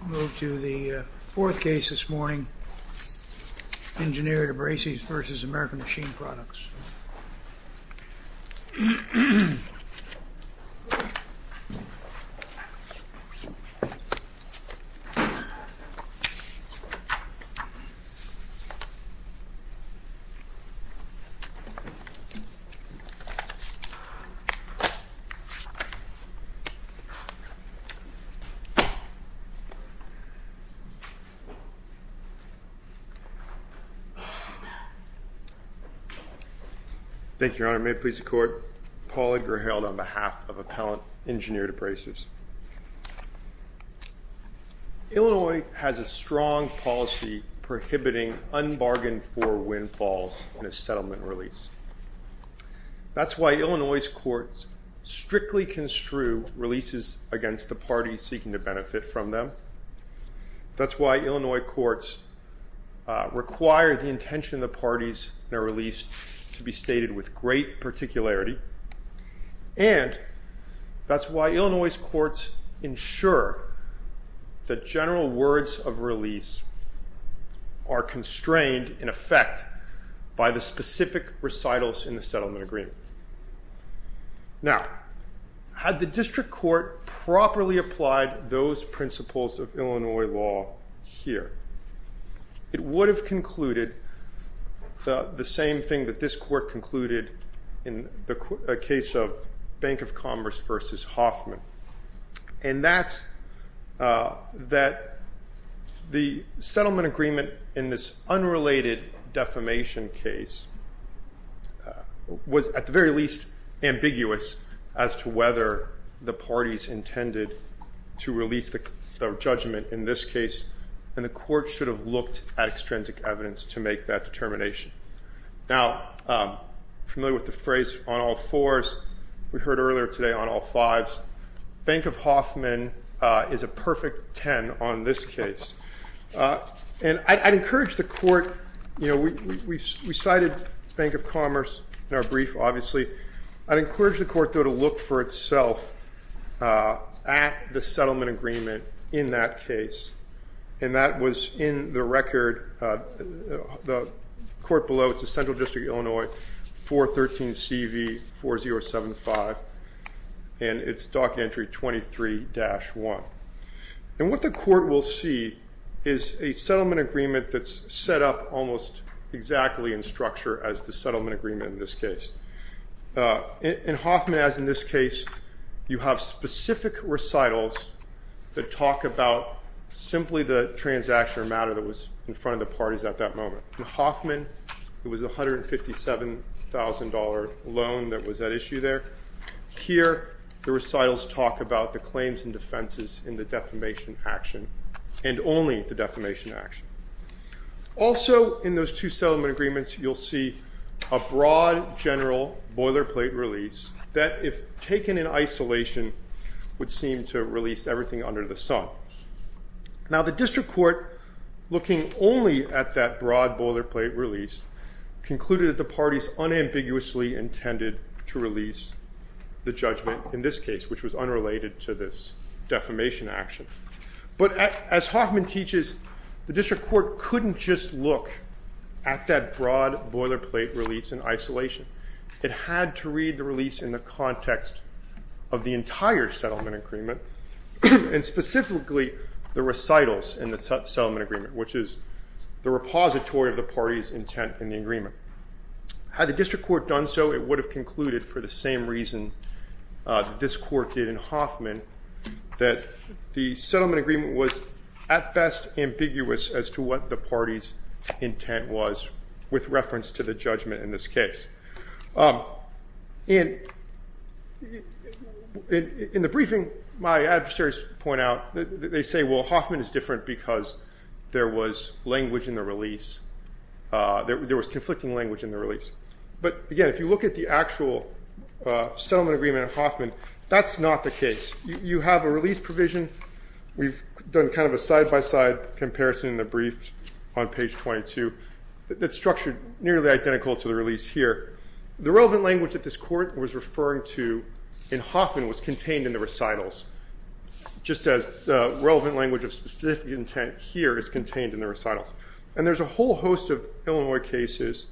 We'll move to the fourth case this morning, Engineered Abrasives v. American Machine Products. Illinois has a strong policy prohibiting unbargained-for windfalls in a settlement release. That's why Illinois courts strictly construe releases against the parties seeking to benefit from them. That's why Illinois courts require the intention of the parties in a release to be stated with great particularity. And that's why Illinois courts ensure that general words of release are constrained in effect by the specific recitals in the settlement agreement. Now, had the district court properly applied those principles of Illinois law here, it would have concluded the same thing that this court concluded in the case of Bank of Commerce v. Hoffman. And that's that the settlement agreement in this unrelated defamation case was at the very least ambiguous as to whether the parties intended to release the judgment in this case. And the court should have looked at extrinsic evidence to make that determination. Now, familiar with the phrase on all fours, we heard earlier today on all fives. Bank of Hoffman is a perfect 10 on this case. And I'd encourage the court, you know, we cited Bank of Commerce in our brief, obviously. I'd encourage the court, though, to look for itself at the settlement agreement in that case. And that was in the record, the court below, it's the Central District of Illinois, 413CV4075. And it's docket entry 23-1. And what the court will see is a settlement agreement that's set up almost exactly in structure as the settlement agreement in this case. In Hoffman, as in this case, you have specific recitals that talk about simply the transaction or matter that was in front of the parties at that moment. In Hoffman, it was $157,000 loan that was at issue there. Here, the recitals talk about the claims and defenses in the defamation action and only the defamation action. Also, in those two settlement agreements, you'll see a broad general boilerplate release that, if taken in isolation, would seem to release everything under the sun. Now, the district court, looking only at that broad boilerplate release, concluded that the parties unambiguously intended to release the judgment in this case, which was unrelated to this defamation action. But as Hoffman teaches, the district court couldn't just look at that broad boilerplate release in isolation. It had to read the release in the context of the entire settlement agreement, and specifically the recitals in the settlement agreement, which is the repository of the parties' intent in the agreement. Had the district court done so, it would have concluded, for the same reason that this court did in Hoffman, that the settlement agreement was at best ambiguous as to what the parties' intent was, with reference to the judgment in this case. In the briefing, my adversaries point out that they say, well, Hoffman is different because there was language in the release. There was conflicting language in the release. But again, if you look at the actual settlement agreement in Hoffman, that's not the case. You have a release provision. We've done kind of a side-by-side comparison in the brief on page 22. It's structured nearly identical to the release here. The relevant language that this court was referring to in Hoffman was contained in the recitals, just as the relevant language of specific intent here is contained in the recitals. And there's a whole host of Illinois cases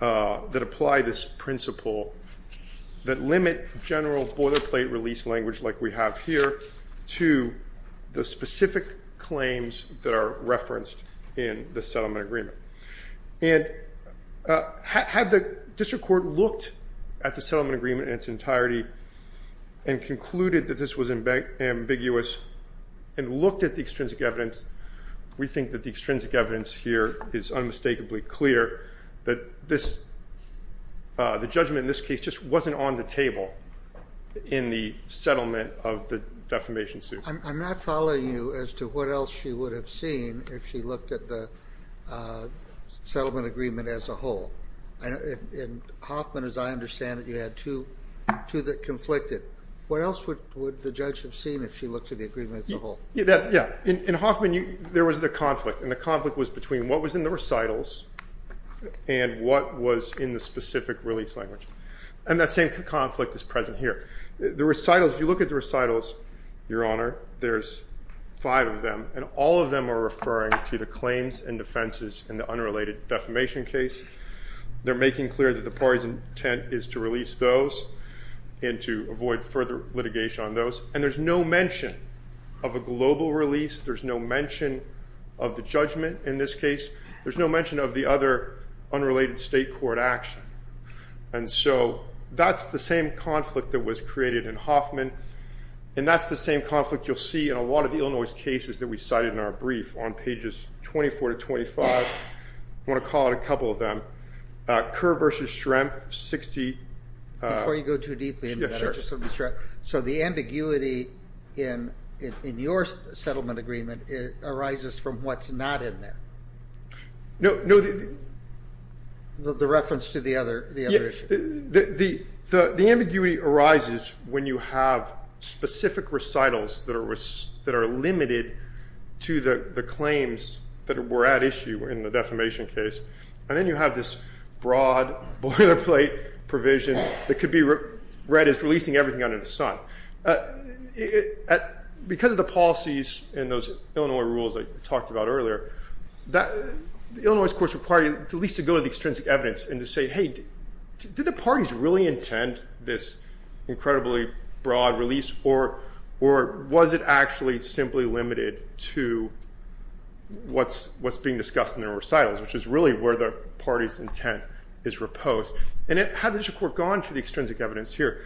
that apply this principle that limit general boilerplate release language like we have here to the specific claims that are referenced in the settlement agreement. And had the district court looked at the settlement agreement in its entirety and concluded that this was ambiguous and looked at the extrinsic evidence, we think that the extrinsic evidence here is unmistakably clear that the judgment in this case just wasn't on the table in the settlement of the defamation suit. I'm not following you as to what else she would have seen if she looked at the settlement agreement as a whole. In Hoffman, as I understand it, you had two that conflicted. What else would the judge have seen if she looked at the agreement as a whole? Yeah. In Hoffman, there was the conflict. And the conflict was between what was in the recitals and what was in the specific release language. And that same conflict is present here. If you look at the recitals, Your Honor, there's five of them. And all of them are referring to the claims and defenses in the unrelated defamation case. They're making clear that the party's intent is to release those and to avoid further litigation on those. And there's no mention of a global release. There's no mention of the judgment in this case. There's no mention of the other unrelated state court action. And so that's the same conflict that was created in Hoffman. And that's the same conflict you'll see in a lot of the Illinois cases that we cited in our brief on pages 24 to 25. I want to call out a couple of them. Kerr v. Schrempf, 60. Before you go too deeply into that, I just want to be sure. So the ambiguity in your settlement agreement arises from what's not in there? No. The reference to the other issue. The ambiguity arises when you have specific recitals that are limited to the claims that were at issue in the defamation case. And then you have this broad boilerplate provision that could be read as releasing everything under the sun. Because of the policies in those Illinois rules I talked about earlier, Illinois, of course, required at least to go to the extrinsic evidence and to say, hey, did the parties really intend this incredibly broad release? Or was it actually simply limited to what's being discussed in their recitals, which is really where the party's intent is reposed? And had the district court gone for the extrinsic evidence here?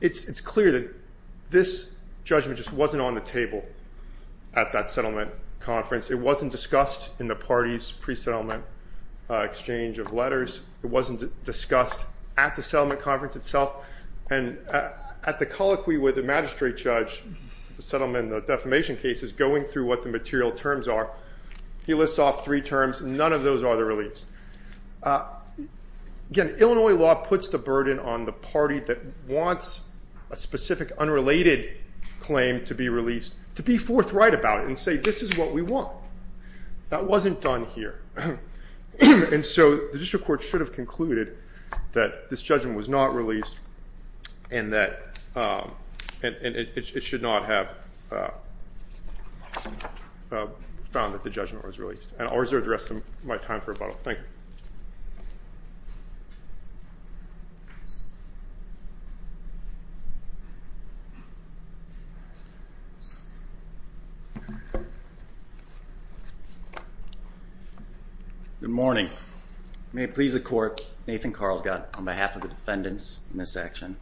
It's clear that this judgment just wasn't on the table at that settlement conference. It wasn't discussed in the party's pre-settlement exchange of letters. It wasn't discussed at the settlement conference itself. And at the colloquy with the magistrate judge, the settlement and the defamation cases, going through what the material terms are, he lists off three terms. None of those are the release. Again, Illinois law puts the burden on the party that wants a specific unrelated claim to be released to be forthright about it and say this is what we want. That wasn't done here. And so the district court should have concluded that this judgment was not released and that it should not have found that the judgment was released. And I'll reserve the rest of my time for rebuttal. Thank you. Good morning. May it please the Court, Nathan Carlsgad, on behalf of the defendants in this action,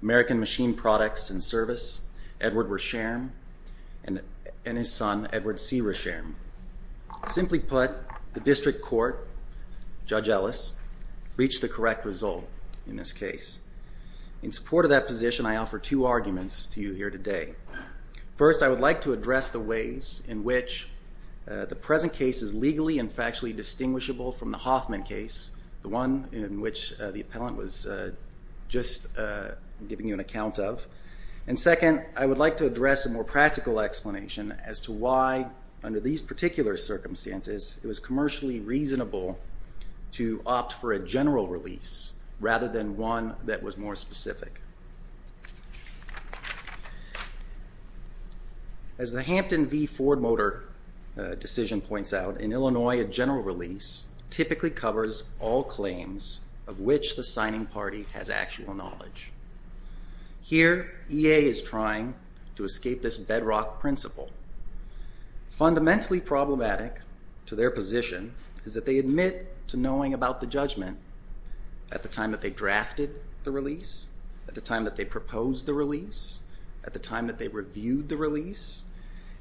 American Machine Products and Service, Edward Resham, and his son, Edward C. Resham. Simply put, the district court, Judge Ellis, reached the correct result in this case. In support of that position, I offer two arguments to you here today. First, I would like to address the ways in which the present case is legally and factually distinguishable from the Hoffman case, the one in which the appellant was just giving you an account of. And second, I would like to address a more practical explanation as to why, under these particular circumstances, it was commercially reasonable to opt for a general release rather than one that was more specific. As the Hampton v. Ford Motor decision points out, in Illinois a general release typically covers all claims of which the signing party has actual knowledge. Here, EA is trying to escape this bedrock principle. Fundamentally problematic to their position is that they admit to knowing about the judgment at the time that they drafted the release, at the time that they proposed the release, at the time that they reviewed the release,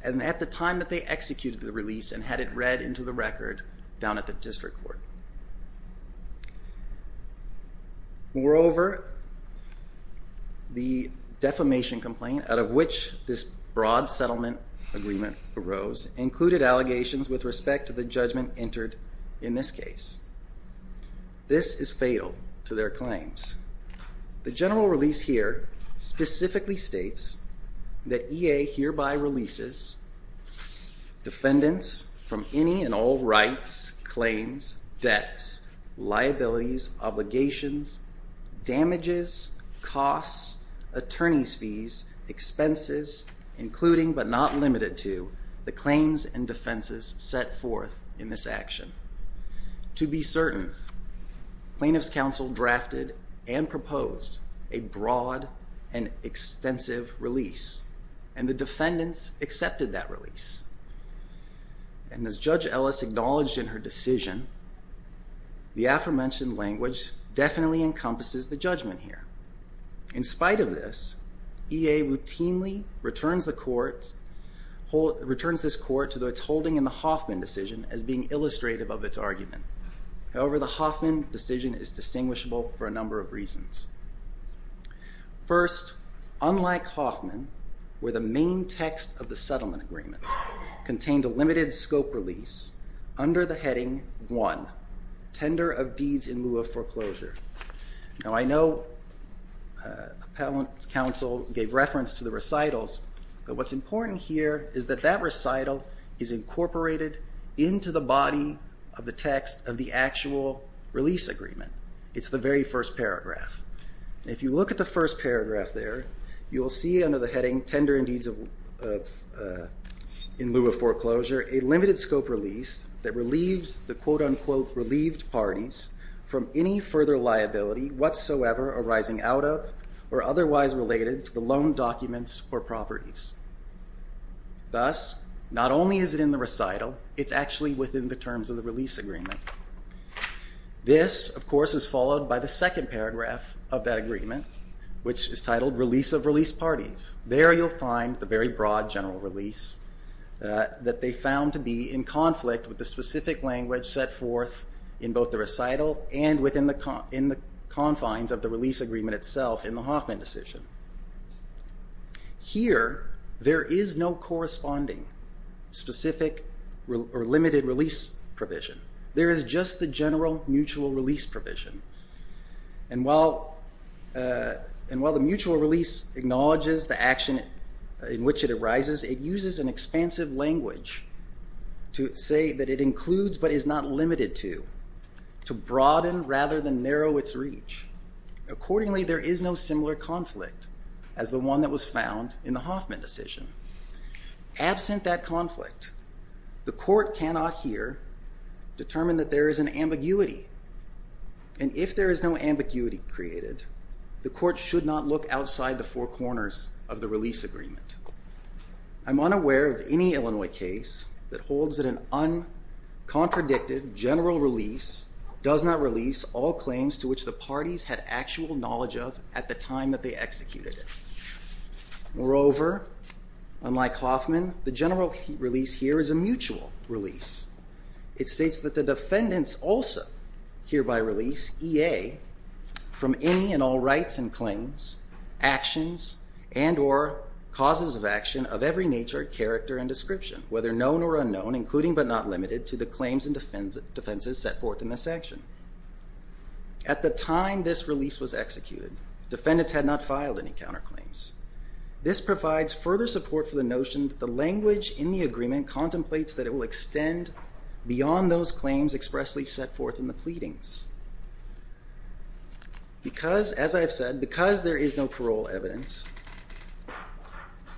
and at the time that they executed the release and had it read into the record down at the district court. Moreover, the defamation complaint out of which this broad settlement agreement arose included allegations with respect to the judgment entered in this case. This is fatal to their claims. The general release here specifically states that EA hereby releases defendants from any and all rights, claims, debts, liabilities, obligations, damages, costs, attorney's fees, expenses, including but not limited to the claims and defenses set forth in this action. To be certain, plaintiff's counsel drafted and proposed a broad and extensive release and the defendants accepted that release. And as Judge Ellis acknowledged in her decision, the aforementioned language definitely encompasses the judgment here. In spite of this, EA routinely returns this court to its holding in the Hoffman decision as being illustrative of its argument. However, the Hoffman decision is distinguishable for a number of reasons. First, unlike Hoffman, where the main text of the settlement agreement contained a limited scope release under the heading 1, tender of deeds in lieu of foreclosure. Now I know appellant's counsel gave reference to the recitals, but what's important here is that that recital is incorporated into the body of the text of the actual release agreement. It's the very first paragraph. And if you look at the first paragraph there, you will see under the heading tender of deeds in lieu of foreclosure a limited scope release that relieves the quote, unquote, relieved parties from any further liability whatsoever arising out of or otherwise related to the loan documents or properties. Thus, not only is it in the recital, it's actually within the terms of the release agreement. This, of course, is followed by the second paragraph of that agreement, which is titled release of released parties. There you'll find the very broad general release that they found to be in conflict with the specific language set forth in both the recital and within the confines of the release agreement itself in the Hoffman decision. Here, there is no corresponding specific or limited release provision. There is just the general mutual release provision. And while the mutual release acknowledges the action in which it arises, it uses an expansive language to say that it includes but is not limited to, to broaden rather than narrow its reach. Accordingly, there is no similar conflict as the one that was found in the Hoffman decision. Absent that conflict, the court cannot here determine that there is an ambiguity, and if there is no ambiguity created, the court should not look outside the four corners of the release agreement. I'm unaware of any Illinois case that holds that an uncontradicted general release does not release all claims to which the parties had actual knowledge of at the time that they executed it. Moreover, unlike Hoffman, the general release here is a mutual release. It states that the defendants also hereby release EA from any and all rights and claims, actions, and or causes of action of every nature, character, and description, whether known or unknown, including but not limited to the claims and defenses set forth in this section. At the time this release was executed, defendants had not filed any counterclaims. This provides further support for the notion that the language in the agreement contemplates that it will extend beyond those claims expressly set forth in the pleadings. Because, as I have said, because there is no parole evidence,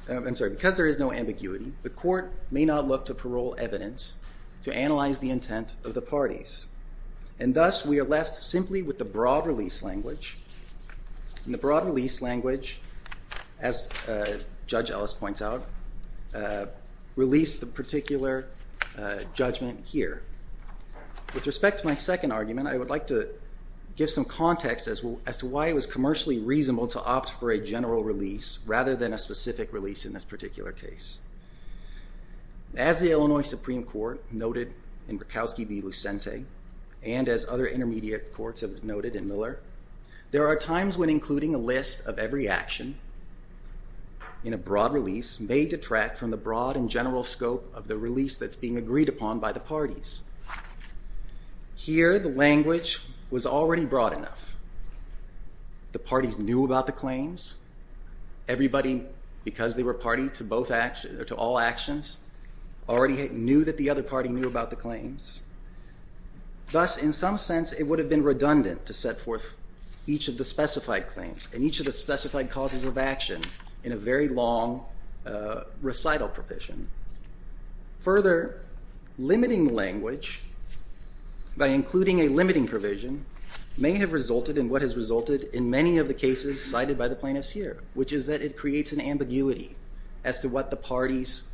I'm sorry, because there is no ambiguity, the court may not look to parole evidence to analyze the intent of the parties, and thus we are left simply with the broad release language, and the broad release language, as Judge Ellis points out, released the particular judgment here. With respect to my second argument, I would like to give some context as to why it was commercially reasonable to opt for a general release rather than a specific release in this particular case. As the Illinois Supreme Court noted in Borkowski v. Lucente, and as other intermediate courts have noted in Miller, there are times when including a list of every action in a broad release may detract from the broad and general scope of the release that's being agreed upon by the parties. Here, the language was already broad enough. The parties knew about the claims. Everybody, because they were party to all actions, already knew that the other party knew about the claims. Thus, in some sense, it would have been redundant to set forth each of the specified claims and each of the specified causes of action in a very long recital provision. Further, limiting language by including a limiting provision may have resulted in what has resulted in many of the cases cited by the plaintiffs here, which is that it creates an ambiguity as to what the parties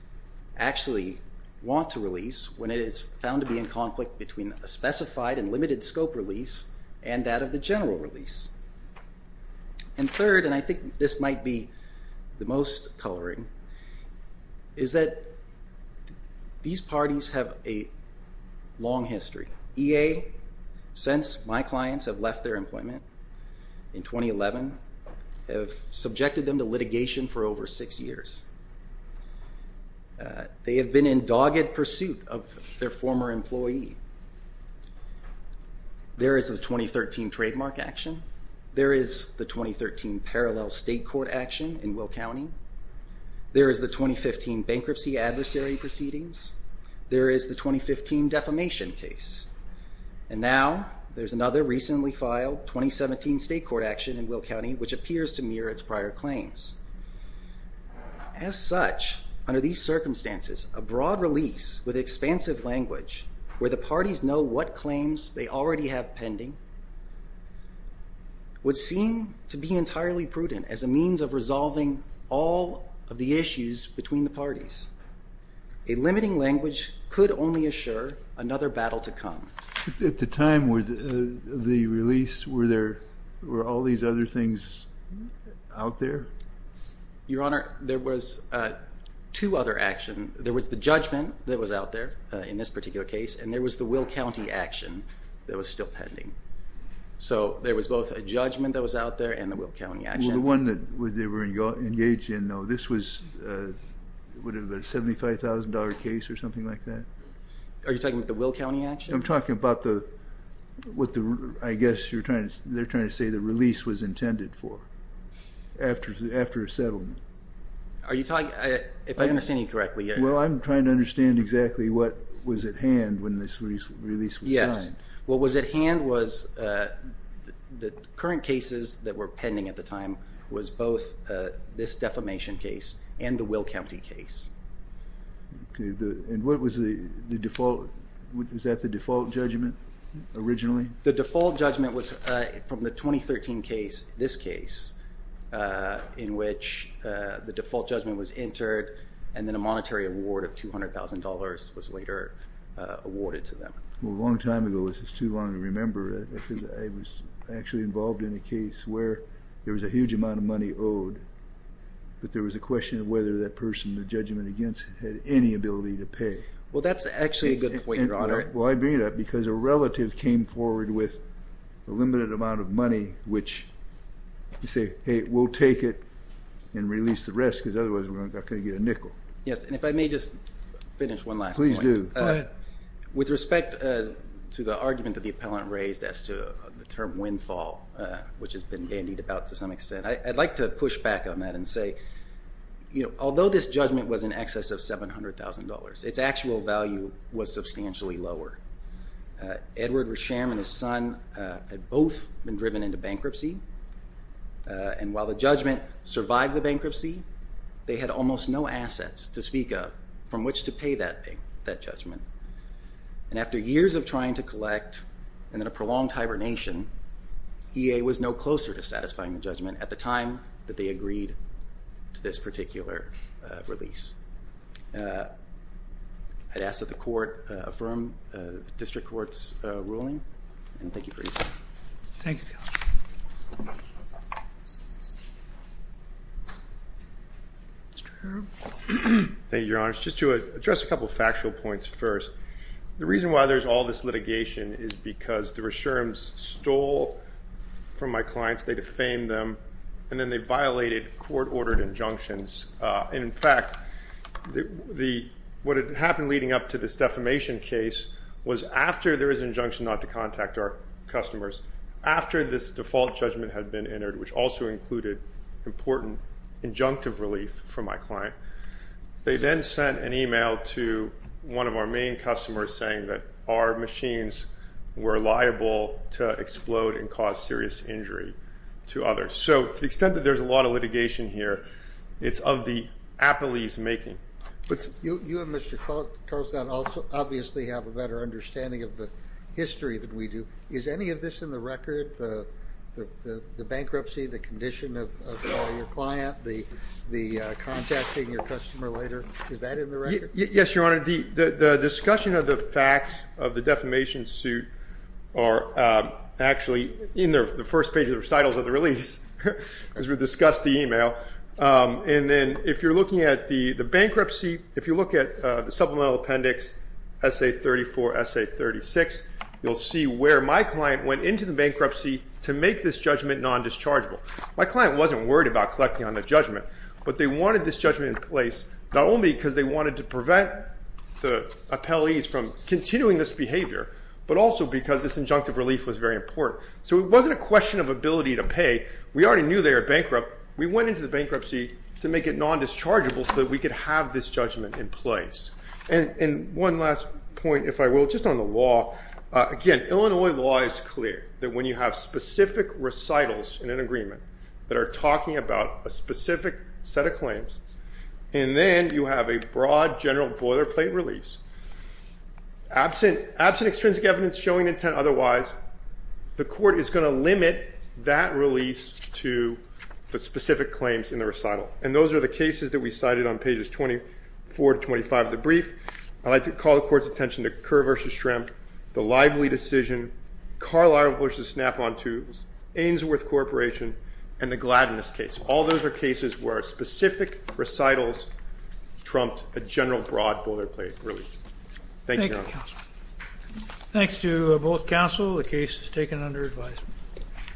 actually want to release when it is found to be in conflict between a specified and limited scope release and that of the general release. And third, and I think this might be the most coloring, is that these parties have a long history. EA, since my clients have left their employment in 2011, have subjected them to litigation for over six years. They have been in dogged pursuit of their former employee. There is a 2013 trademark action. There is the 2013 parallel state court action in Will County. There is the 2015 bankruptcy adversary proceedings. There is the 2015 defamation case. And now there's another recently filed 2017 state court action in Will County which appears to mirror its prior claims. As such, under these circumstances, a broad release with expansive language where the parties know what claims they already have pending would seem to be entirely prudent as a means of resolving all of the issues between the parties. A limiting language could only assure another battle to come. At the time of the release, were all these other things out there? Your Honor, there was two other actions. There was the judgment that was out there in this particular case and there was the Will County action that was still pending. So there was both a judgment that was out there and the Will County action. The one that they were engaged in, this was a $75,000 case or something like that? Are you talking about the Will County action? I'm talking about what I guess they're trying to say the release was intended for after a settlement. If I understand you correctly. Well, I'm trying to understand exactly what was at hand when this release was signed. What was at hand was the current cases that were pending at the time was both this defamation case and the Will County case. And what was the default? Was that the default judgment originally? The default judgment was from the 2013 case, this case, in which the default judgment was entered and then a monetary award of $200,000 was later awarded to them. Well, a long time ago. This is too long to remember because I was actually involved in a case where there was a huge amount of money owed, but there was a question of whether that person, the judgment against, had any ability to pay. Well, that's actually a good point, Your Honor. Well, I bring it up because a relative came forward with a limited amount of money, which you say, hey, we'll take it and release the rest because otherwise we're not going to get a nickel. Yes, and if I may just finish one last point. Please do. With respect to the argument that the appellant raised as to the term windfall, which has been dandied about to some extent, I'd like to push back on that and say, although this judgment was in excess of $700,000, its actual value was substantially lower. Edward Resham and his son had both been driven into bankruptcy, and while the judgment survived the bankruptcy, they had almost no assets to speak of from which to pay that judgment. And after years of trying to collect and then a prolonged hibernation, EA was no closer to satisfying the judgment at the time that they agreed to this particular release. I'd ask that the court affirm the district court's ruling, and thank you for your time. Thank you. Thank you, Your Honor. Just to address a couple of factual points first. The reason why there's all this litigation is because the Resharms stole from my clients, they defamed them, and then they violated court-ordered injunctions. And in fact, what had happened leading up to this defamation case was after there was an injunction not to contact our customers, after this default judgment had been entered, which also included important injunctive relief from my client, they then sent an email to one of our main customers saying that our machines were liable to explode and cause serious injury to others. So to the extent that there's a lot of litigation here, it's of the appellee's making. You and Mr. Carlson obviously have a better understanding of the history than we do. Is any of this in the record, the bankruptcy, the condition of your client, the contacting your customer later? Is that in the record? Yes, Your Honor. The discussion of the facts of the defamation suit are actually in the first page of the recitals of the release, as we discussed the email. And then if you're looking at the bankruptcy, if you look at the supplemental appendix, essay 34, essay 36, you'll see where my client went into the bankruptcy to make this judgment non-dischargeable. My client wasn't worried about collecting on the judgment, but they wanted this judgment in place not only because they wanted to prevent the appellees from continuing this behavior, but also because this injunctive relief was very important. So it wasn't a question of ability to pay, we already knew they were bankrupt. We went into the bankruptcy to make it non-dischargeable so that we could have this judgment in place. And one last point, if I will, just on the law. Again, Illinois law is clear that when you have specific recitals in an agreement that are talking about a specific set of claims, and then you have a broad general boilerplate release, absent extrinsic evidence showing intent otherwise, the court is going to limit that release to the specific claims in the recital. And those are the cases that we cited on pages 24 to 25 of the brief. I'd like to call the court's attention to Kerr v. Schrimp, the Lively decision, Carlisle v. Snap-on Tubes, Ainsworth Corporation, and the Gladness case. All those are cases where specific recitals trumped a general broad boilerplate release. Thank you, Your Honor. Thanks to both counsel, the case is taken under advisement.